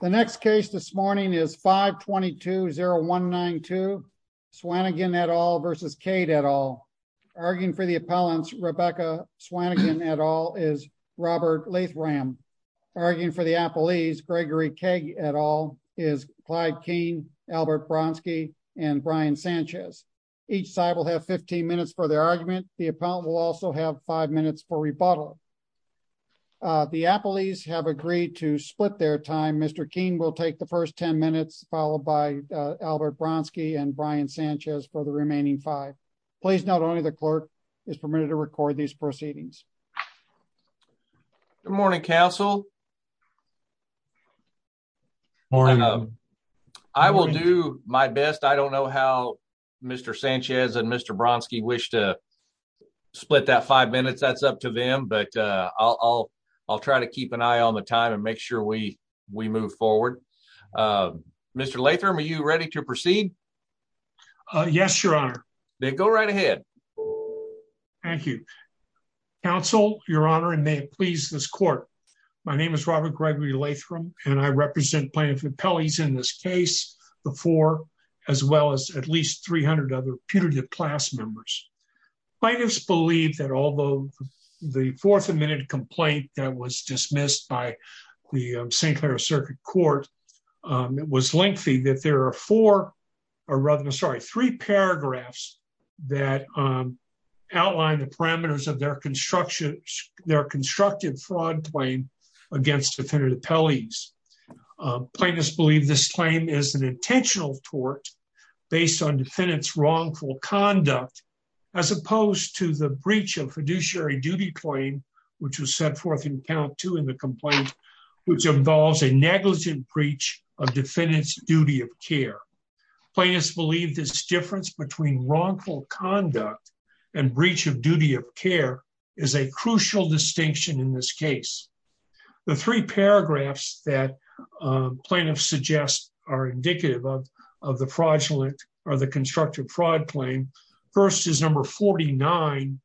The next case this morning is 522-0192 Swannigan et al. versus Cade et al. Arguing for the appellants, Rebecca Swannigan et al. is Robert Lathram. Arguing for the appellees, Gregory Cade et al. is Clyde Keane, Albert Bronski, and Brian Sanchez. Each side will have 15 minutes for their argument. The appellant will also have five minutes for rebuttal. The appellees have agreed to split their time. Mr. Keane will take the first 10 minutes, followed by Albert Bronski and Brian Sanchez for the remaining five. Please note only the clerk is permitted to record these proceedings. Good morning, Council. I will do my best. I don't know how Mr. Sanchez and Mr. Bronski wish to all try to keep an eye on the time and make sure we move forward. Mr. Lathram, are you ready to proceed? Yes, Your Honor. Then go right ahead. Thank you. Council, Your Honor, and may it please this court, my name is Robert Gregory Lathram, and I represent plaintiff appellees in this case, the four, as well as at least 300 other putative class members. Plaintiffs believe that although the fourth amendment complaint that was dismissed by the St. Clair Circuit Court, it was lengthy that there are four, or rather, sorry, three paragraphs that outline the parameters of their construction, their constructive fraud claim against defendant appellees. Plaintiffs believe this claim is an intentional tort based on wrongful conduct, as opposed to the breach of fiduciary duty claim, which was set forth in account two in the complaint, which involves a negligent breach of defendant's duty of care. Plaintiffs believe this difference between wrongful conduct and breach of duty of care is a crucial distinction in this case. The three paragraphs that plaintiffs suggest are indicative of the fraudulent or the constructive fraud claim. First is number 49,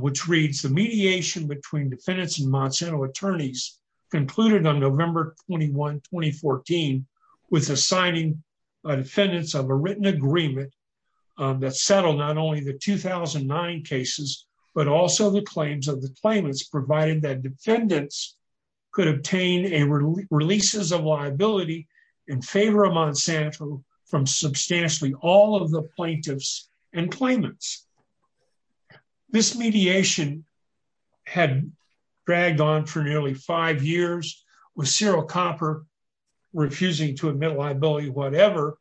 which reads, the mediation between defendants and Monsanto attorneys concluded on November 21, 2014, with assigning defendants of a written agreement that settled not only the 2009 cases, but also the claims of the claimants, provided that all of the plaintiffs and claimants. This mediation had dragged on for nearly five years with Cyril Copper refusing to admit liability, whatever.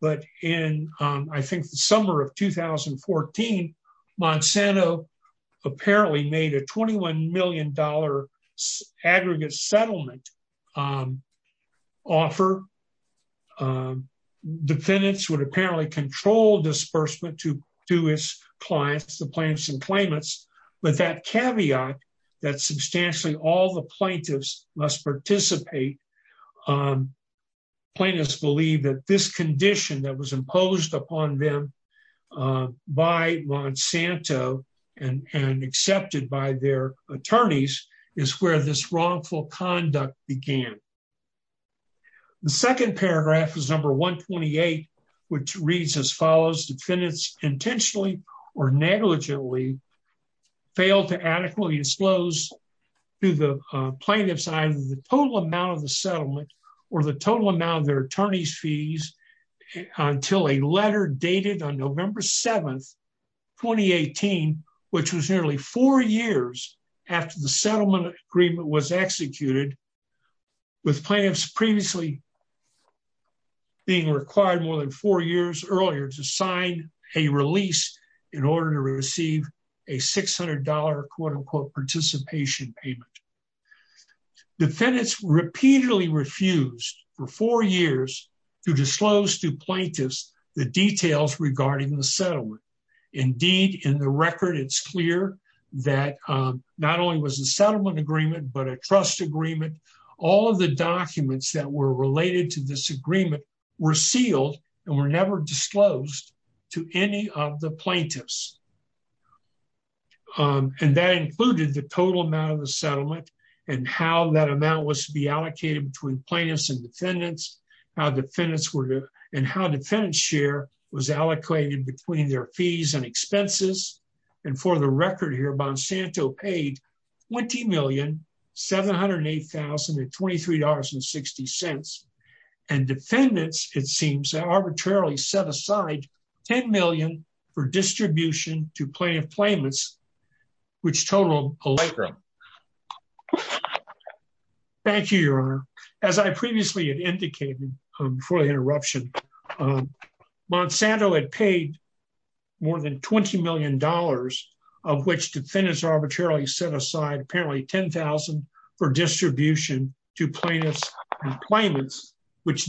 But in, I think, the summer of 2014, Monsanto apparently made a $21 million aggregate settlement offer. Defendants would apparently control disbursement to his clients, the plaintiffs and claimants, but that caveat that substantially all the plaintiffs must participate, plaintiffs believe that this condition that was imposed upon them by Monsanto and accepted by their attorneys is where this wrongful conduct began. The second paragraph is number 128, which reads as follows, defendants intentionally or negligently failed to adequately disclose to the plaintiffs either the total amount of the settlement or the total amount of their attorney's fees until a letter dated on November 7, 2018, which was nearly four years after the settlement agreement was executed, with plaintiffs previously being required more than four years earlier to sign a release in order to receive a $600 quote-unquote participation payment. Defendants repeatedly refused for four years to disclose to plaintiffs the details regarding the settlement. Indeed, in the record, it's clear that not only was a settlement agreement but a trust agreement. All of the documents that were related to this agreement were sealed and were never disclosed to any of the plaintiffs. And that included the total amount of the settlement and how that amount was to be how defendants were and how defendant's share was allocated between their fees and expenses. And for the record here, Monsanto paid $20,708,023.60. And defendants, it seems, arbitrarily set aside $10 million for distribution to plaintiff before the interruption. Monsanto had paid more than $20 million, of which defendants arbitrarily set aside apparently $10,000 for distribution to plaintiffs and claimants, which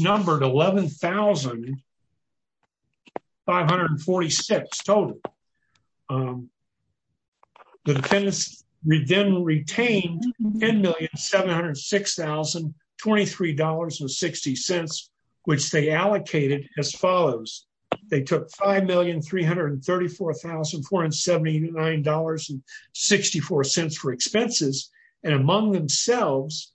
they allocated as follows. They took $5,334,479.64 for expenses and among themselves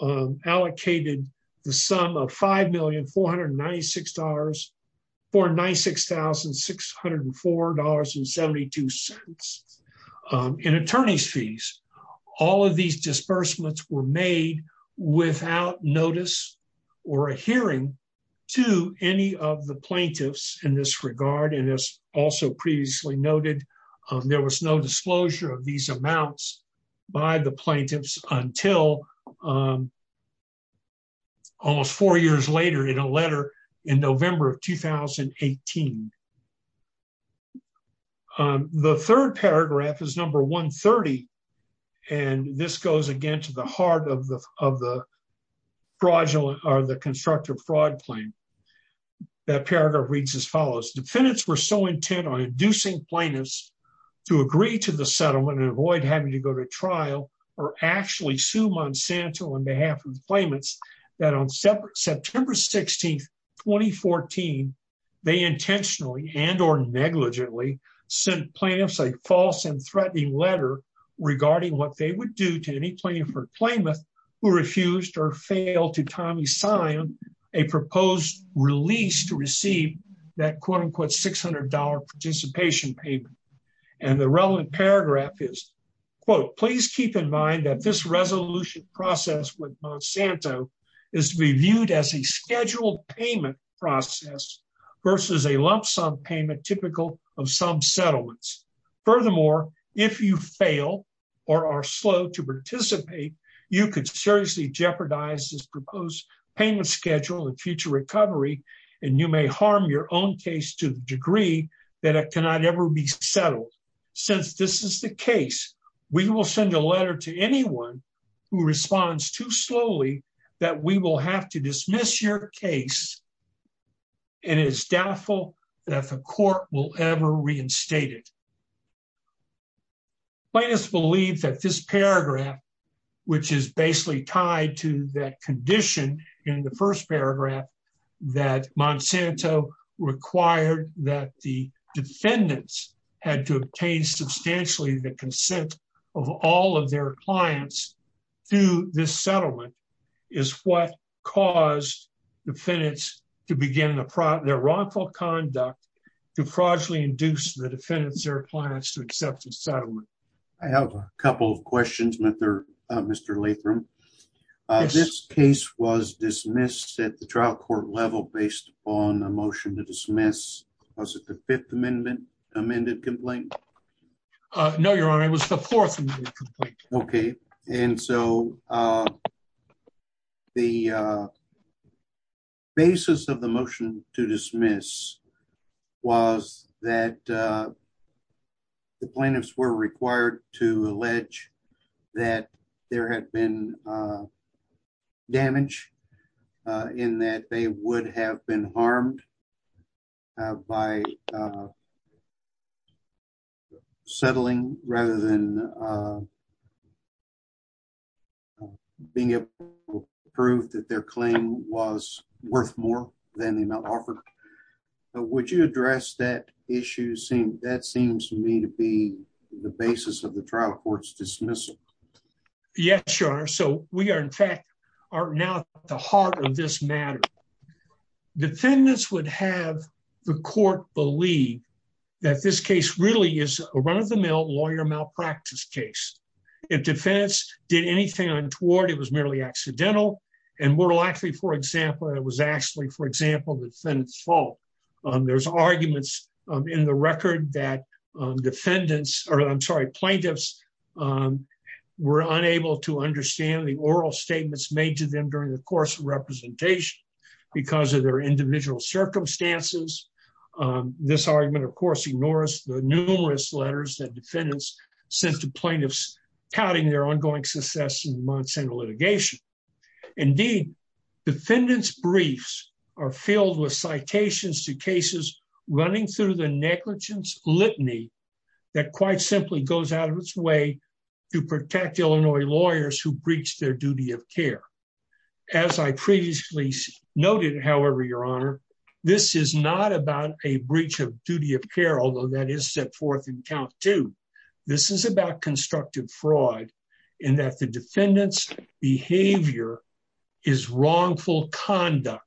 allocated the sum of $5,496,604.72 in attorney's fees. All of these disbursements were made without notice or a hearing to any of the plaintiffs in this regard. And as also previously noted, there was no disclosure of these amounts by the plaintiffs until almost four years later in a letter in November of 2018. And the third paragraph is number 130. And this goes again to the heart of the fraudulent or the constructive fraud claim. That paragraph reads as follows. Defendants were so intent on inducing plaintiffs to agree to the settlement and avoid having to go to trial or actually sue Monsanto on behalf of the claimants that on September 16, 2014, they intentionally and or negligently sent plaintiffs a false and threatening letter regarding what they would do to any plaintiff or claimant who refused or failed to timely sign a proposed release to receive that quote unquote $600 participation payment. And the relevant paragraph is, quote, please keep in mind that this resolution process with Monsanto is reviewed as a scheduled payment process versus a lump sum payment typical of some settlements. Furthermore, if you fail or are slow to participate, you could seriously jeopardize this proposed payment schedule and future recovery and you may harm your own case to the degree that it cannot ever be settled. Since this is the case, we will send a letter to anyone who responds too slowly that we will have to dismiss your case and it is doubtful that the court will ever reinstate it. Plaintiffs believe that this paragraph, which is basically tied to that condition in the first paragraph that Monsanto required that the defendants had to obtain substantially the consent of all of their clients through this settlement, is what caused defendants to begin their wrongful conduct to fraudulently induce the defendants or clients to accept the settlement. I have a couple of questions, Mr. Lathram. This case was dismissed at the trial court level based on a motion to dismiss. Was it the Fifth Amendment amended complaint? Uh, no, Your Honor. It was the Fourth Amendment complaint. Okay. And so, uh, the, uh, basis of the motion to dismiss was that, uh, the plaintiffs were required to allege that there had been, uh, damage, uh, in that they would have been harmed, uh, by, uh, settling rather than, uh, being able to prove that their claim was worth more than the amount offered. Would you address that issue? That seems to me to be the basis of the trial court's dismissal. Yes, Your Honor. So, we are, in fact, are now at the heart of this matter. Defendants would have the court believe that this case really is a run-of-the-mill lawyer malpractice case. If defendants did anything untoward, it was merely accidental, and were likely, for example, it was actually, for example, the defendant's fault. Um, there's arguments, um, in the record that, um, defendants, or I'm sorry, plaintiffs, um, were unable to understand the oral statements made to them during the course of representation because of their individual circumstances. Um, this argument, of course, ignores the numerous letters that defendants sent to plaintiffs touting their ongoing success in Monsanto litigation. Indeed, defendants' briefs are filled with citations to cases running through the negligence litany that quite simply goes out of its way to protect Illinois lawyers who breach their duty of care. As I previously noted, however, Your Honor, this is not about a breach of duty of care, although that is set forth in count two. This is about constructive fraud in that the defendant's behavior is wrongful conduct,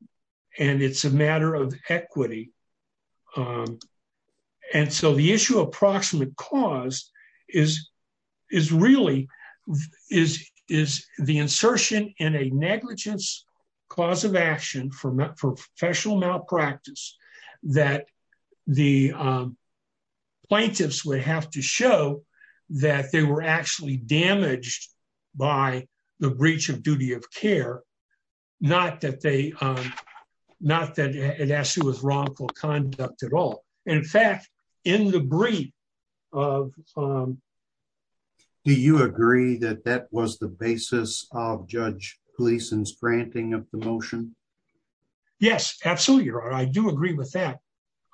um, and it's a matter of equity. Um, and so the issue of proximate cause is, is really, is, is the insertion in a negligence cause of action for professional malpractice that the, um, plaintiffs would have to show that they were actually damaged by the breach of duty of care not that they, um, not that it actually was wrongful conduct at all. And in fact, in the brief of, um, do you agree that that was the basis of Judge Gleason's granting of the motion? Yes, absolutely, Your Honor. I do agree with that.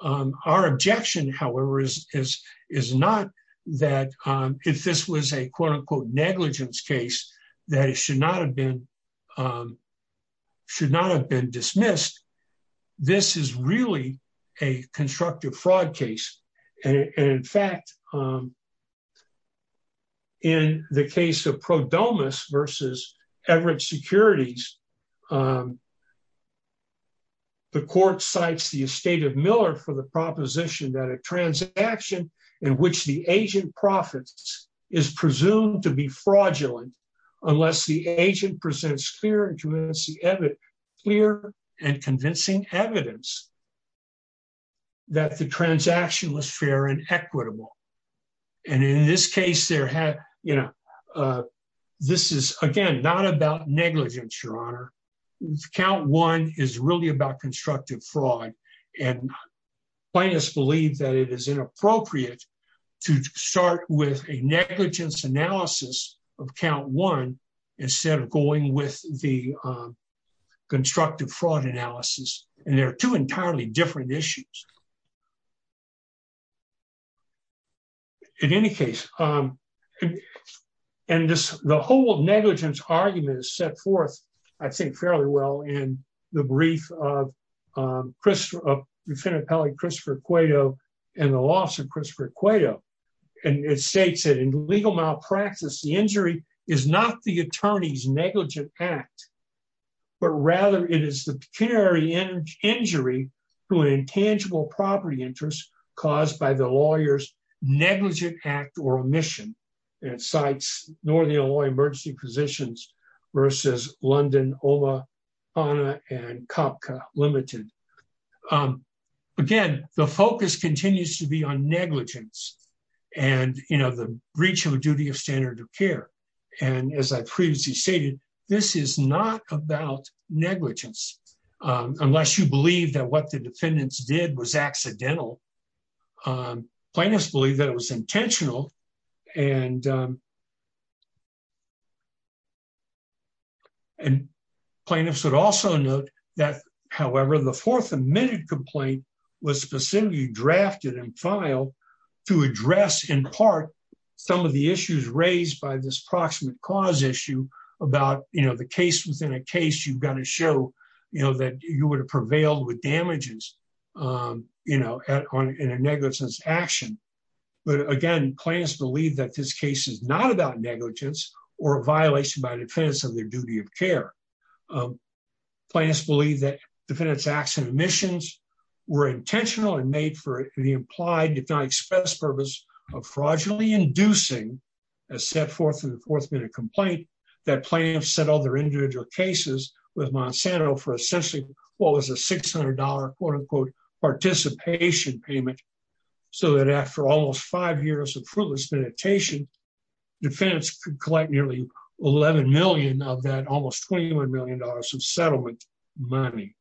Um, our objection, however, is, is, is not that, um, if this was a quote unquote negligence case that it should not have been, um, should not have been dismissed. This is really a constructive fraud case. And in fact, um, in the case of Pro Domus versus Everett Securities, um, the court cites the estate of Miller for the proposition that a transaction in which the agent presents clear and convincing evidence that the transaction was fair and equitable. And in this case, there had, you know, uh, this is again, not about negligence, Your Honor. Count one is really about constructive fraud and plaintiffs believe that it is inappropriate to start with a negligence analysis of count one instead of going with the, um, constructive fraud analysis. And there are two entirely different issues. In any case, um, and this, the whole negligence argument is set forth, I'd say fairly well in the brief of, um, Christopher, uh, defendant Pelley, Christopher Cueto, and the loss of Christopher Cueto. And it states that in legal malpractice, the injury is not the attorney's negligent act, but rather it is the pecuniary injury to an intangible property interest caused by the lawyer's negligent act or omission. And it cites Northern Illinois Emergency Physicians versus London, Ola, Fana, and Kopka Limited. Um, again, the focus continues to be on negligence and, you know, the breach of a duty of standard of care. And as I previously stated, this is not about negligence, um, unless you believe that what the defendants did was accidental. Um, plaintiffs believe that it was intentional and, um, and plaintiffs would also note that, however, the fourth admitted complaint was specifically drafted and filed to address in part, some of the issues raised by this proximate cause issue about, you know, the case within a case you've got to show, you know, that you would have prevailed with damages, um, you know, in a negligence action. But again, plaintiffs believe that this case is not about negligence or a violation by defendants of their duty of care. Um, plaintiffs believe that defendants acts and omissions were intentional and made for the implied, if not expressed purpose of fraudulently inducing a set forth in the fourth minute complaint that set all their individual cases with Monsanto for essentially what was a $600 quote-unquote participation payment. So that after almost five years of fruitless meditation, defendants could collect nearly 11 million of that almost $21 million of settlement money.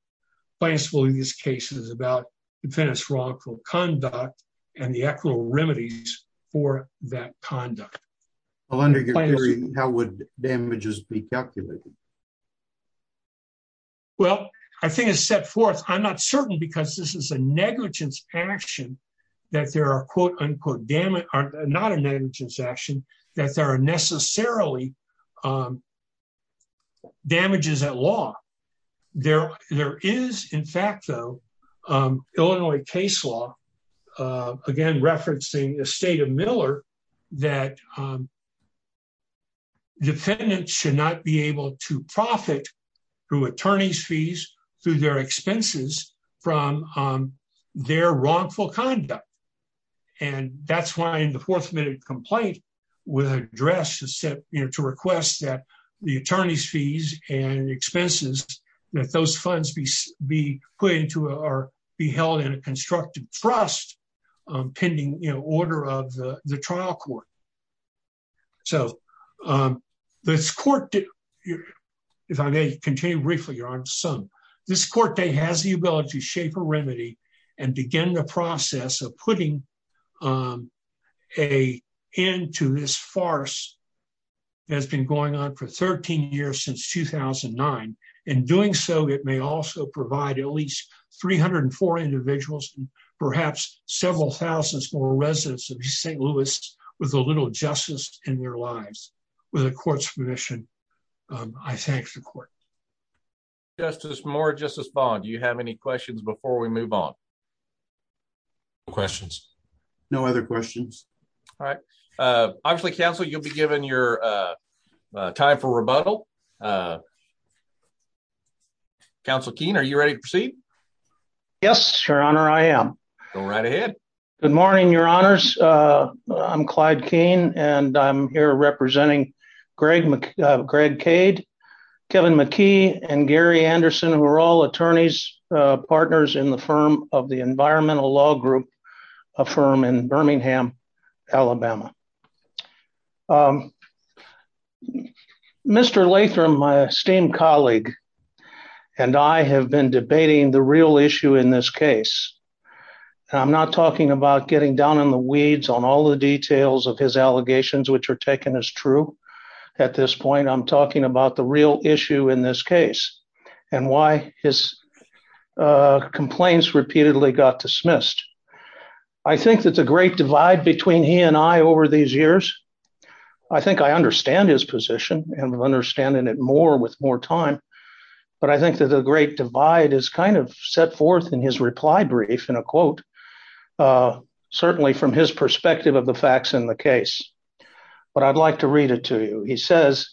Plaintiffs believe these cases about defendants wrongful conduct and the actual remedies for that conduct. Well, under your theory, how would damages be calculated? Well, I think it's set forth. I'm not certain because this is a negligence action that there are quote-unquote damage are not a negligence action that there are necessarily, um, damages at law. There, there is in fact, though, um, Illinois case law, uh, again, referencing the state of Miller that, um, defendants should not be able to profit through attorney's fees, through their expenses from, um, their wrongful conduct. And that's why in the fourth minute complaint with address to set, you know, to request that the attorney's fees and expenses that those funds be, be put into, or be held in a constructive trust, um, pending, you know, order of the trial court. So, um, this court, if I may continue briefly, your honor, this court has the ability to shape a remedy and begin the process of putting, um, a end to this farce that's been going on for 13 years since 2009. In doing so, it may also provide at least 304 individuals and perhaps several thousands more residents of St. Louis with a little justice in their lives. With the court's permission, um, I thank the court. Justice Moore, Justice Bond, do you have any questions before we move on? No questions. No other questions. All right. Uh, obviously counsel, you'll be given your, uh, time for rebuttal. Uh, counsel Keene, are you ready to proceed? Yes, your honor. I am. Go right ahead. Good morning, your honors. Uh, I'm Clyde Keene and I'm here representing Greg, uh, Greg Cade, Kevin McKee, and Gary Anderson, who are all attorneys, uh, partners in the firm of the Environmental Law Group, a firm in Birmingham, Alabama. Um, Mr. Lathram, my esteemed colleague, and I have been debating the real issue in this case. And I'm not talking about getting down in the weeds on all the details of his allegations, which are taken as true at this point. I'm talking about the real issue in this case and why his, uh, complaints repeatedly got dismissed. I think that the great divide between he and I over these years, I think I understand his position and I'm understanding it more with more time. But I think that the great divide is kind of set forth in his reply brief in a quote, uh, certainly from his perspective of the facts in the case. But I'd like to read it to you. He says,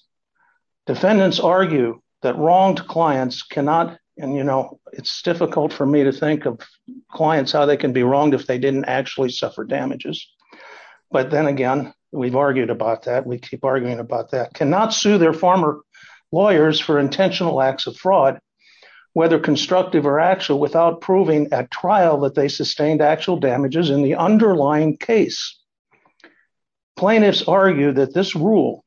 defendants argue that wronged clients cannot, and you know, it's difficult for me to think of clients, how they can be wronged if they didn't actually suffer damages. But then again, we've argued about that. We keep arguing about that. Cannot sue their former lawyers for intentional acts of fraud, whether constructive or actual, without proving at trial that they sustained actual damages in the underlying case. Plaintiffs argue that this rule,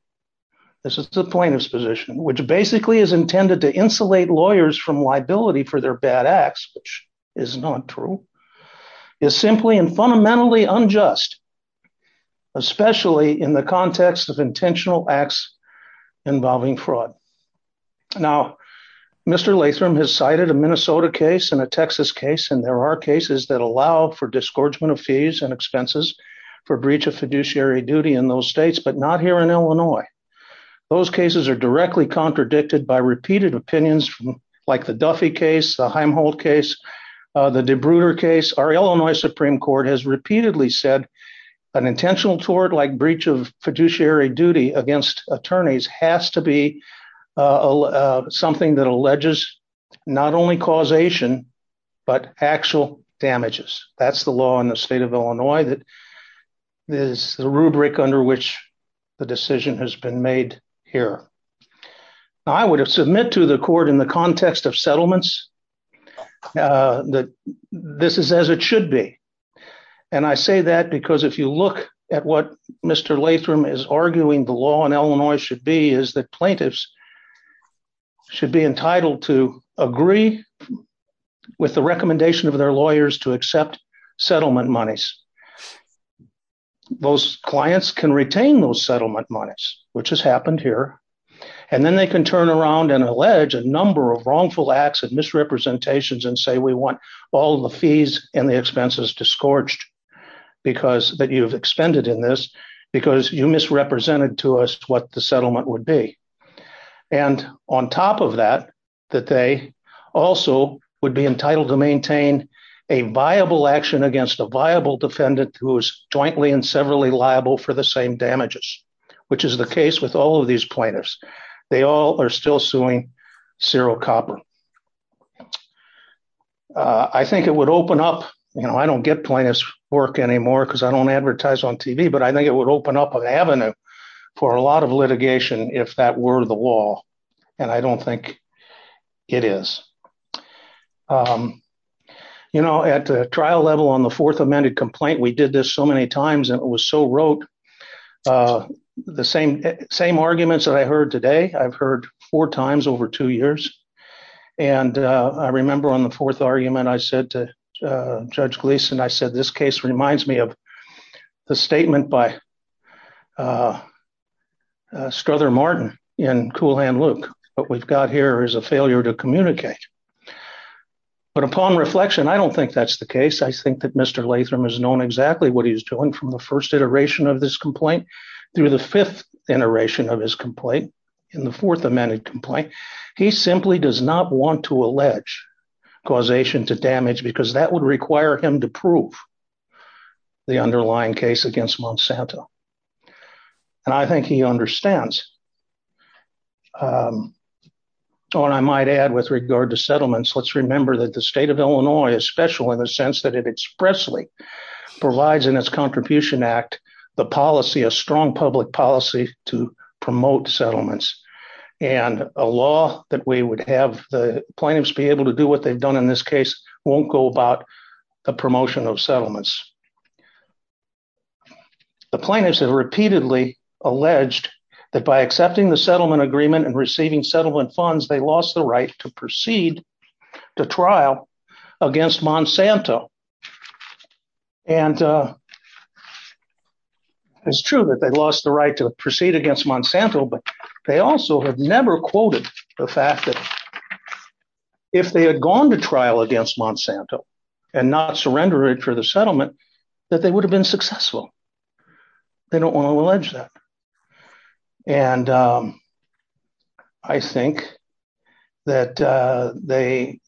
this is the plaintiff's position, which basically is intended to insulate lawyers from liability for their bad acts, which is not true, is simply and fundamentally unjust, especially in the context of intentional acts involving fraud. Now, Mr. Latham has cited a Minnesota case and a Texas case. And there are cases that allow for disgorgement of fees and Those cases are directly contradicted by repeated opinions, like the Duffy case, the Heimholt case, the DeBrutter case. Our Illinois Supreme Court has repeatedly said an intentional tort, like breach of fiduciary duty against attorneys has to be something that alleges not only causation, but actual damages. That's the law in the state of Illinois. That is the rubric under which the decision has been made here. I would have submit to the court in the context of settlements that this is as it should be. And I say that because if you look at what Mr. Latham is arguing the law in Illinois should be, is that plaintiffs should be entitled to agree with the recommendation of their lawyers to accept settlement monies. Those clients can retain those settlement monies, which has happened here. And then they can turn around and allege a number of wrongful acts and misrepresentations and say, we want all the fees and the expenses disgorged, because that you've expended in this, because you misrepresented to us what the settlement would be. And on top of that, that they also would be entitled to maintain a viable action against a viable defendant who is jointly and severally liable for the same damages, which is the case with all of these plaintiffs. They all are still suing zero copper. I think it would open up, you know, I don't get plaintiffs work anymore because I don't advertise on TV, but I think it would open up an avenue for a lot of litigation if that were the law. And I don't think it is. You know, at the trial level on the fourth amended complaint, we did this so many times, and it was so rote. The same arguments that I heard today, I've heard four times over two years. And I remember on the fourth argument, I said to Judge Gleason, I said, this case reminds me of the statement by Strother Martin in Coolhand Luke. What we've got here is a failure to communicate. But upon reflection, I don't think that's the case. I think that Mr. Latham has known exactly what he's doing from the first iteration of this complaint through the fifth iteration of his complaint in the fourth amended complaint. He simply does not want to allege causation to prove the underlying case against Monsanto. And I think he understands. So what I might add with regard to settlements, let's remember that the state of Illinois is special in the sense that it expressly provides in its Contribution Act, the policy, a strong public policy to promote settlements. And a law that we would have the plaintiffs be able to do what they've done in this case won't go about the promotion of settlements. The plaintiffs have repeatedly alleged that by accepting the settlement agreement and receiving settlement funds, they lost the right to proceed to trial against Monsanto. And it's true that they lost the right to proceed against Monsanto, but they also have never quoted the fact that if they had gone to trial against Monsanto, and not surrender it for the settlement, that they would have been successful. They don't want to allege that. And I think that they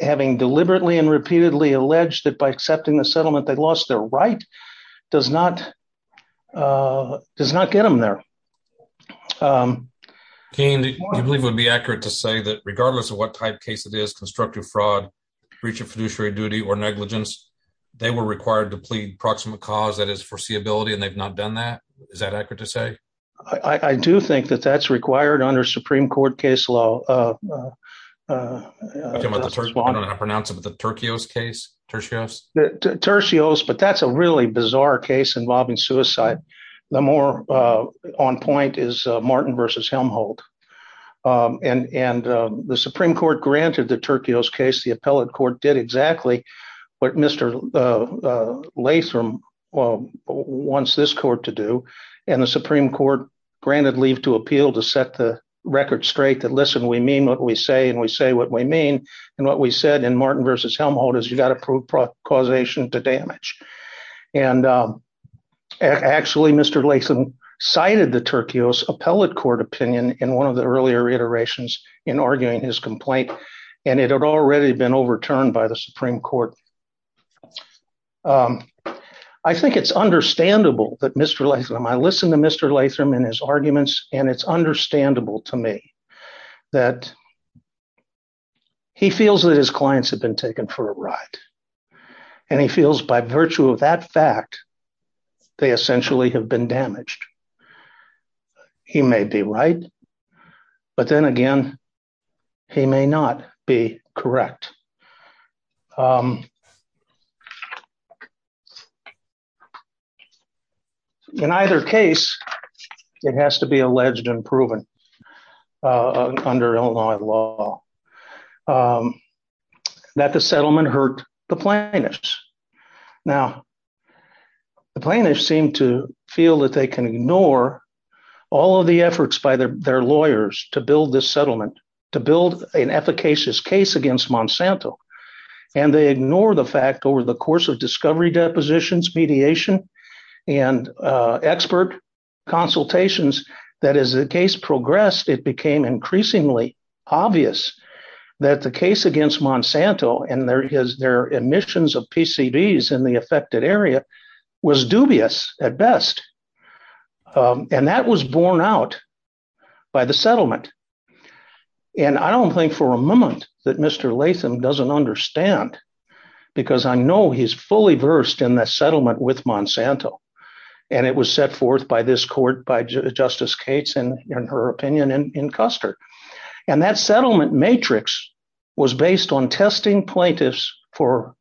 having deliberately and repeatedly alleged that by accepting the settlement, they lost their right, does not does not get them there. Can you believe would be accurate to say that regardless of what type case it is constructive fraud, breach of fiduciary duty or negligence, they were required to plead proximate cause that is foreseeability and they've not done that. Is that accurate to say? I do think that that's required under Supreme Court case law. Okay, I'm gonna pronounce it with the Turcios case. The Turcios, but that's a really bizarre case involving suicide. The more on point is Martin versus Helmholtz. And the Supreme Court granted the Turcios case, the appellate court did exactly what Mr. Latham wants this court to do. And the Supreme Court granted leave to appeal to set the what we say and we say what we mean. And what we said in Martin versus Helmholtz is you got to prove causation to damage. And actually, Mr. Latham cited the Turcios appellate court opinion in one of the earlier iterations in arguing his complaint, and it had already been overturned by the Supreme Court. I think it's understandable that Mr. Latham, I listened to Mr. Latham and his arguments, and it's understandable to me that he feels that his clients have been taken for a ride. And he feels by virtue of that fact, they essentially have been damaged. He may be right, but then again, he may not be correct. In either case, it has to be alleged and proven under Illinois law that the settlement hurt the plaintiffs. Now, the plaintiffs seem to feel that they can ignore all of the efforts by their lawyers to build this settlement, to build an efficacious case against Monsanto. And they ignore the fact over the course of discovery depositions, mediation, and expert consultations, that as the case progressed, it became increasingly obvious that the case against Monsanto and their emissions of PCBs in the affected area was dubious at best. And that was borne out by the settlement. And I don't think for a moment that Mr. Latham doesn't understand, because I know he's fully versed in the settlement with Monsanto. And it was set forth by this court by Justice Cates in her opinion in Custer. And that settlement matrix was based on testing plaintiffs for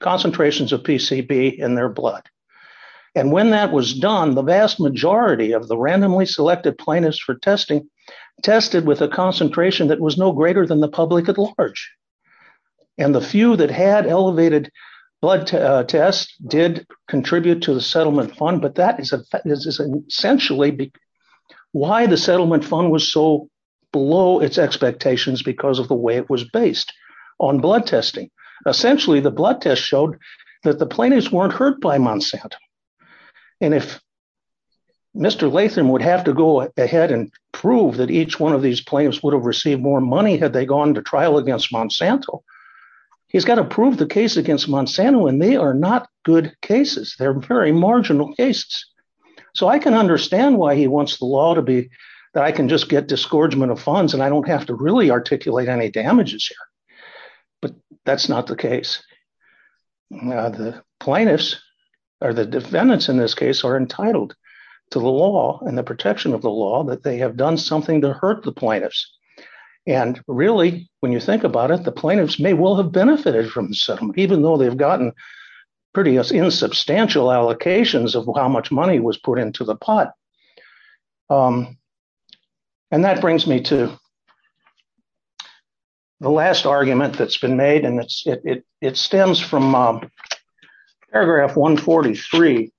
concentrations of PCB in their blood. And when that was done, the vast majority of the randomly selected plaintiffs for testing tested with a concentration that was no greater than the public at large. And the few that had elevated blood tests did contribute to the settlement fund. But that is essentially why the settlement fund was so below its expectations because of the way it was based on blood testing. Essentially, the blood test showed that the plaintiffs weren't hurt by Monsanto. And if Mr. Latham would have to go ahead and prove that each one of these plaintiffs would have received more money had they gone to trial against Monsanto, he's got to prove the case against Monsanto and they are not good cases. They're very marginal cases. So I can understand why he wants the law to be that I can just get disgorgement of funds and I don't have to really defendants in this case are entitled to the law and the protection of the law that they have done something to hurt the plaintiffs. And really, when you think about it, the plaintiffs may well have benefited from the settlement even though they've gotten pretty insubstantial allocations of how much money was put into the pot. And that brings me to the last argument that's been made and it stems from paragraph 143.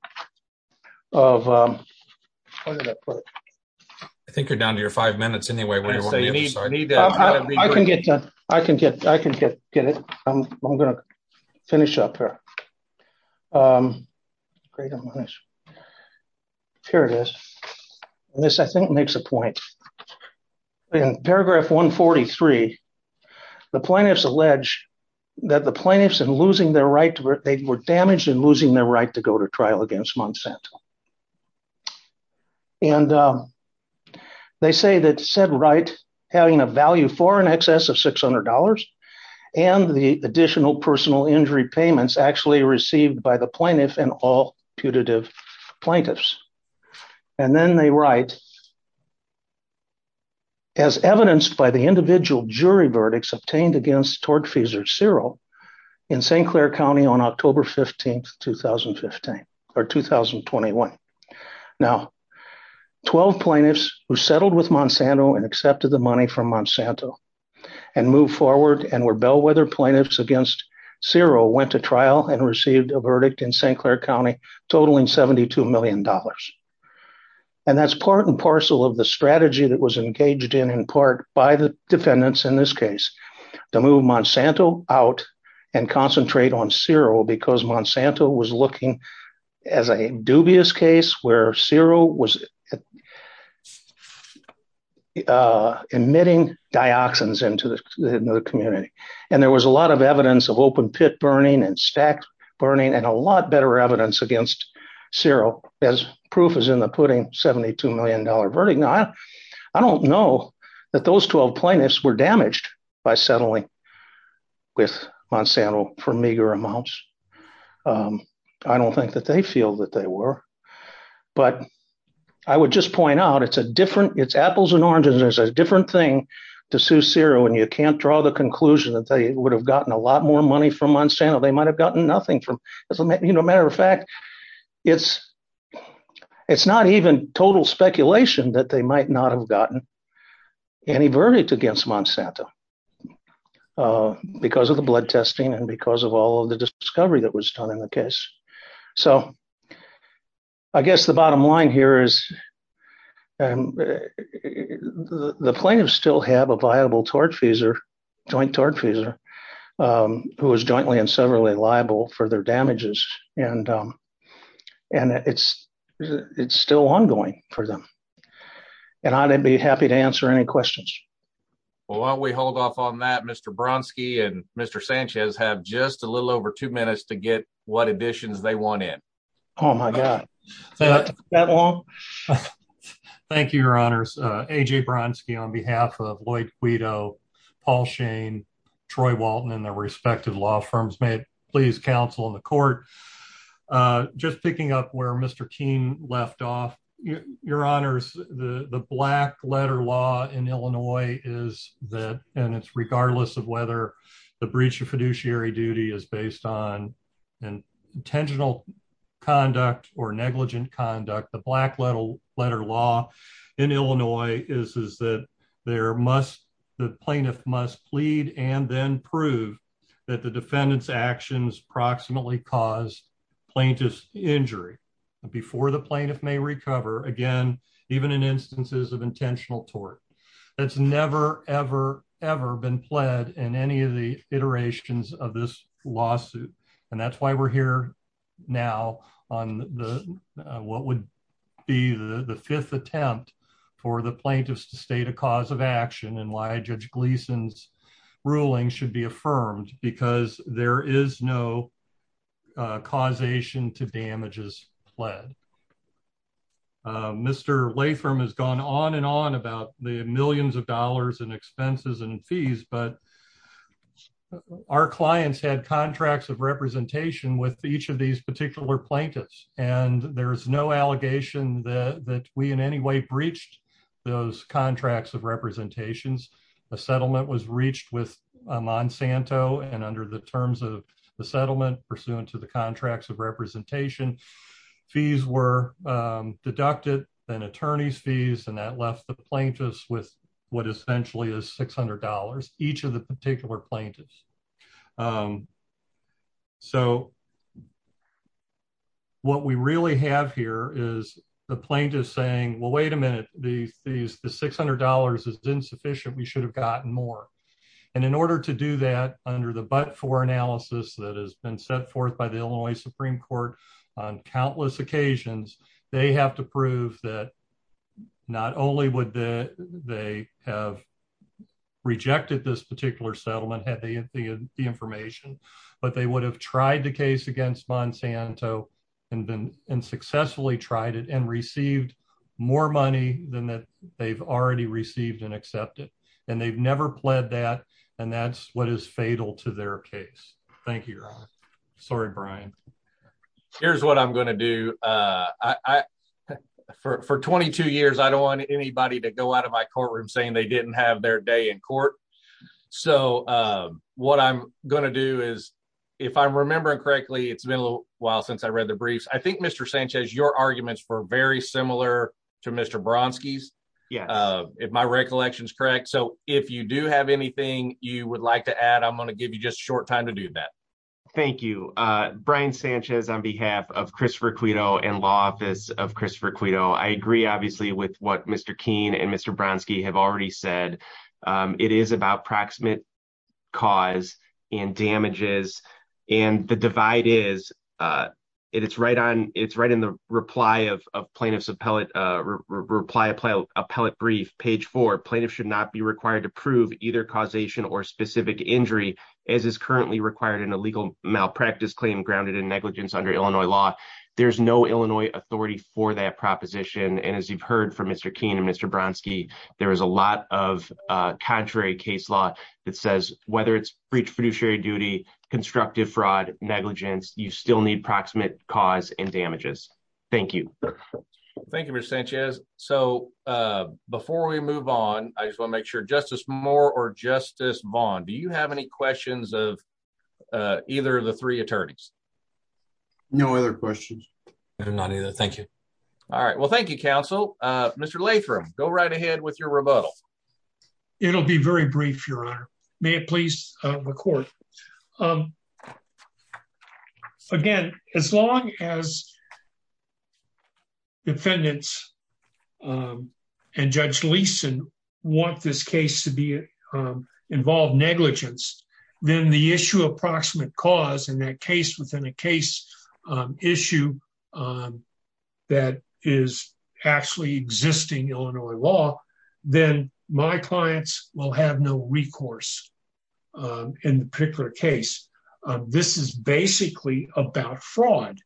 I think you're down to your five minutes anyway. I can get it. I'm going to finish up here. Here it is. This I think makes a point. In paragraph 143, the plaintiffs allege that the plaintiffs in losing their right, they were damaged in losing their right to go to trial against Monsanto. And they say that said right, having a value for an excess of $600 and the additional personal injury payments actually received by the plaintiff and all putative plaintiffs. And then they write, as evidenced by the individual jury verdicts obtained against tortfeasor Ciro in St. Clair County on October 15, 2015, or 2021. Now, 12 plaintiffs who settled with Monsanto and accepted the money from Monsanto and move forward and were bellwether plaintiffs against Ciro went to trial and received a verdict in St. Clair County totaling $72 million. And that's part and parcel of the strategy that was engaged in, in part by the defendants in this case, to move Monsanto out and concentrate on Ciro because Monsanto was looking as a dubious case where Ciro was emitting dioxins into the community. And there was a lot of evidence of open pit burning and burning and a lot better evidence against Ciro as proof is in the putting $72 million verdict. Now, I don't know that those 12 plaintiffs were damaged by settling with Monsanto for meager amounts. I don't think that they feel that they were. But I would just point out it's a different, it's apples and oranges, there's a different thing to sue Ciro and you can't draw the conclusion that they would have gotten a lot more money from Monsanto. They might've gotten nothing from, as a matter of fact, it's not even total speculation that they might not have gotten any verdict against Monsanto because of the blood testing and because of all of the discovery that was done in the case. So I guess the bottom line here is the plaintiffs still have a viable joint tortfeasor who is jointly and severally liable for their damages. And it's still ongoing for them. And I'd be happy to answer any questions. Well, while we hold off on that, Mr. Bronski and Mr. Sanchez have just a little over two minutes to get what additions they want in. Oh my God. Is that all? Thank you, your honors. A.J. Bronski on behalf of Lloyd Guido, Paul Shane, Troy Walton, and their respected law firms. May it please counsel in the court. Just picking up where Mr. Keene left off, your honors, the black letter law in Illinois is that, and it's regardless of whether the breach of fiduciary duty is based on intentional conduct or negligent conduct, the black letter law in Illinois is that the plaintiff must plead and then prove that the defendant's actions approximately caused plaintiff's injury before the plaintiff may recover again, even in instances of intentional tort. That's never, ever, ever been pled in any of the iterations of this lawsuit. And that's why we're here now on the, what would be the fifth attempt for the plaintiffs to state a cause of action and why judge Gleason's ruling should be affirmed because there is no causation to damages pled. Mr. Latham has gone on and on about the millions of dollars in expenses and fees, but our clients had contracts of representation with each of these particular plaintiffs. And there's no allegation that we in any way breached those contracts of representations. The settlement was reached with Monsanto and under the terms of the settlement pursuant to the contracts of representation, fees were deducted, then attorney's fees, and that left the plaintiffs with what essentially is $600, each of the particular plaintiffs. So what we really have here is the plaintiff saying, well, wait a minute, the fees, the $600 is insufficient. We should have gotten more. And in order to do that under the but-for analysis that has been set forth by the Illinois Supreme Court on countless occasions, they have to prove that not only would they have rejected this particular settlement, had they had the information, but they would have tried the case against Monsanto and successfully tried it and received more money than that they've already received and accepted. And they've never pled that, and that's what is fatal to their case. Thank you, your honor. Sorry, Brian. Here's what I'm going to do. For 22 years, I don't want anybody to go out of my courtroom saying they didn't have their day in court. So what I'm going to do is, if I'm remembering correctly, it's been a while since I read the briefs. I think, Mr. Sanchez, your arguments were very similar to Mr. Bronski's, if my recollection is correct. So if you do have anything you would like to add, I'm going to give you just a short time to do that. Thank you. Brian Sanchez on behalf of Christopher Cueto and law office of Christopher Cueto. I agree obviously with what Mr. Keene and Mr. Bronski have already said. It is about proximate cause and damages. And the divide is, it's right in the reply of plaintiff's appellate brief, page four, plaintiff should not be required to prove either causation or specific injury as is currently required in a legal malpractice claim grounded in negligence under Illinois law. There's no Illinois authority for that proposition. And as you've heard from Mr. Keene and Mr. Bronski, there is a lot of contrary case law that says whether it's breach of fiduciary duty, constructive fraud, negligence, you still need proximate cause and damages. Thank you. Thank you, Mr. Sanchez. So before we move on, I just want to make sure Justice Moore or Justice Vaughn, do you have any questions of either of the three attorneys? No other questions. Not either. Thank you. All right. Well, thank you, counsel. Mr. Lathroom, go right ahead with your rebuttal. It'll be very brief, Your Honor. May it please the court. Again, as long as negligence, then the issue of proximate cause and that case within a case issue that is actually existing Illinois law, then my clients will have no recourse in the particular case. This is basically about fraud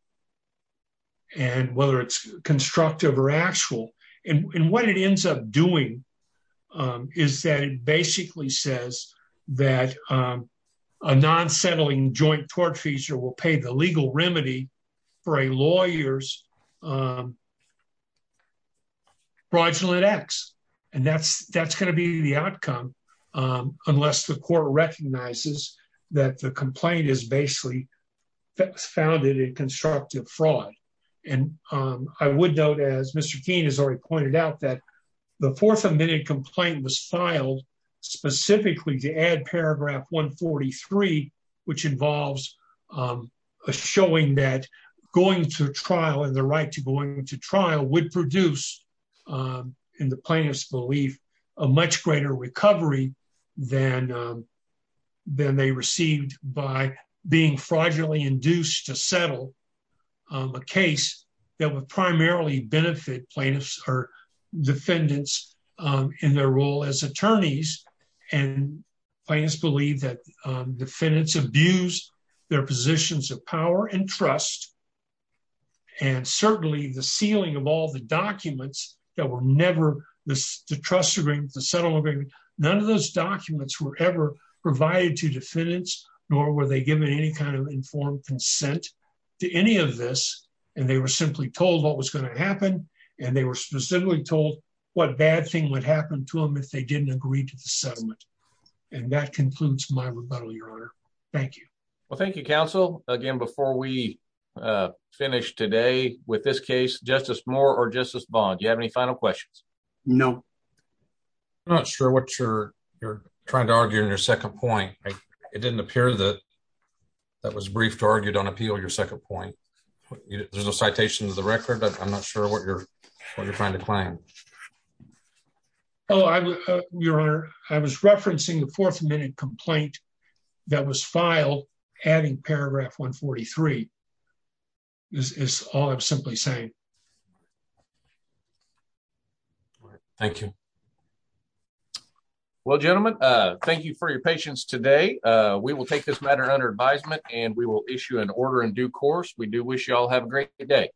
and whether it's constructive or actual. And what it ends up doing is that it basically says that a non-settling joint tort feature will pay the legal remedy for a lawyer's fraudulent acts. And that's going to be the outcome unless the court recognizes that the complaint is basically founded in constructive fraud. And I would note, as Mr. Keene has already pointed out, that the fourth admitted complaint was filed specifically to add paragraph 143, which involves a showing that going to trial and the right to going to trial would produce, in the plaintiff's belief, a much greater recovery than they received by being fraudulently induced to settle a case that would primarily benefit plaintiffs or defendants in their role as attorneys. And plaintiffs believe that defendants abuse their positions of power and trust. And certainly the sealing of all the documents that were never the trust agreement, the settlement agreement, none of those documents were ever provided to them, nor were they given any kind of informed consent to any of this. And they were simply told what was going to happen. And they were specifically told what bad thing would happen to them if they didn't agree to the settlement. And that concludes my rebuttal, Your Honor. Thank you. Well, thank you, counsel. Again, before we finish today with this case, Justice Moore or Justice Bond, do you have any final questions? No. I'm not sure what you're trying to argue in your second point. It didn't appear that that was briefed argued on appeal, your second point. There's no citations of the record, but I'm not sure what you're trying to claim. Oh, Your Honor, I was referencing the fourth minute complaint that was filed adding paragraph 143. This is all I'm simply saying. Thank you. Well, gentlemen, thank you for your patience today. We will take this matter under advisement and we will issue an order in due course. We do wish you all have a great day.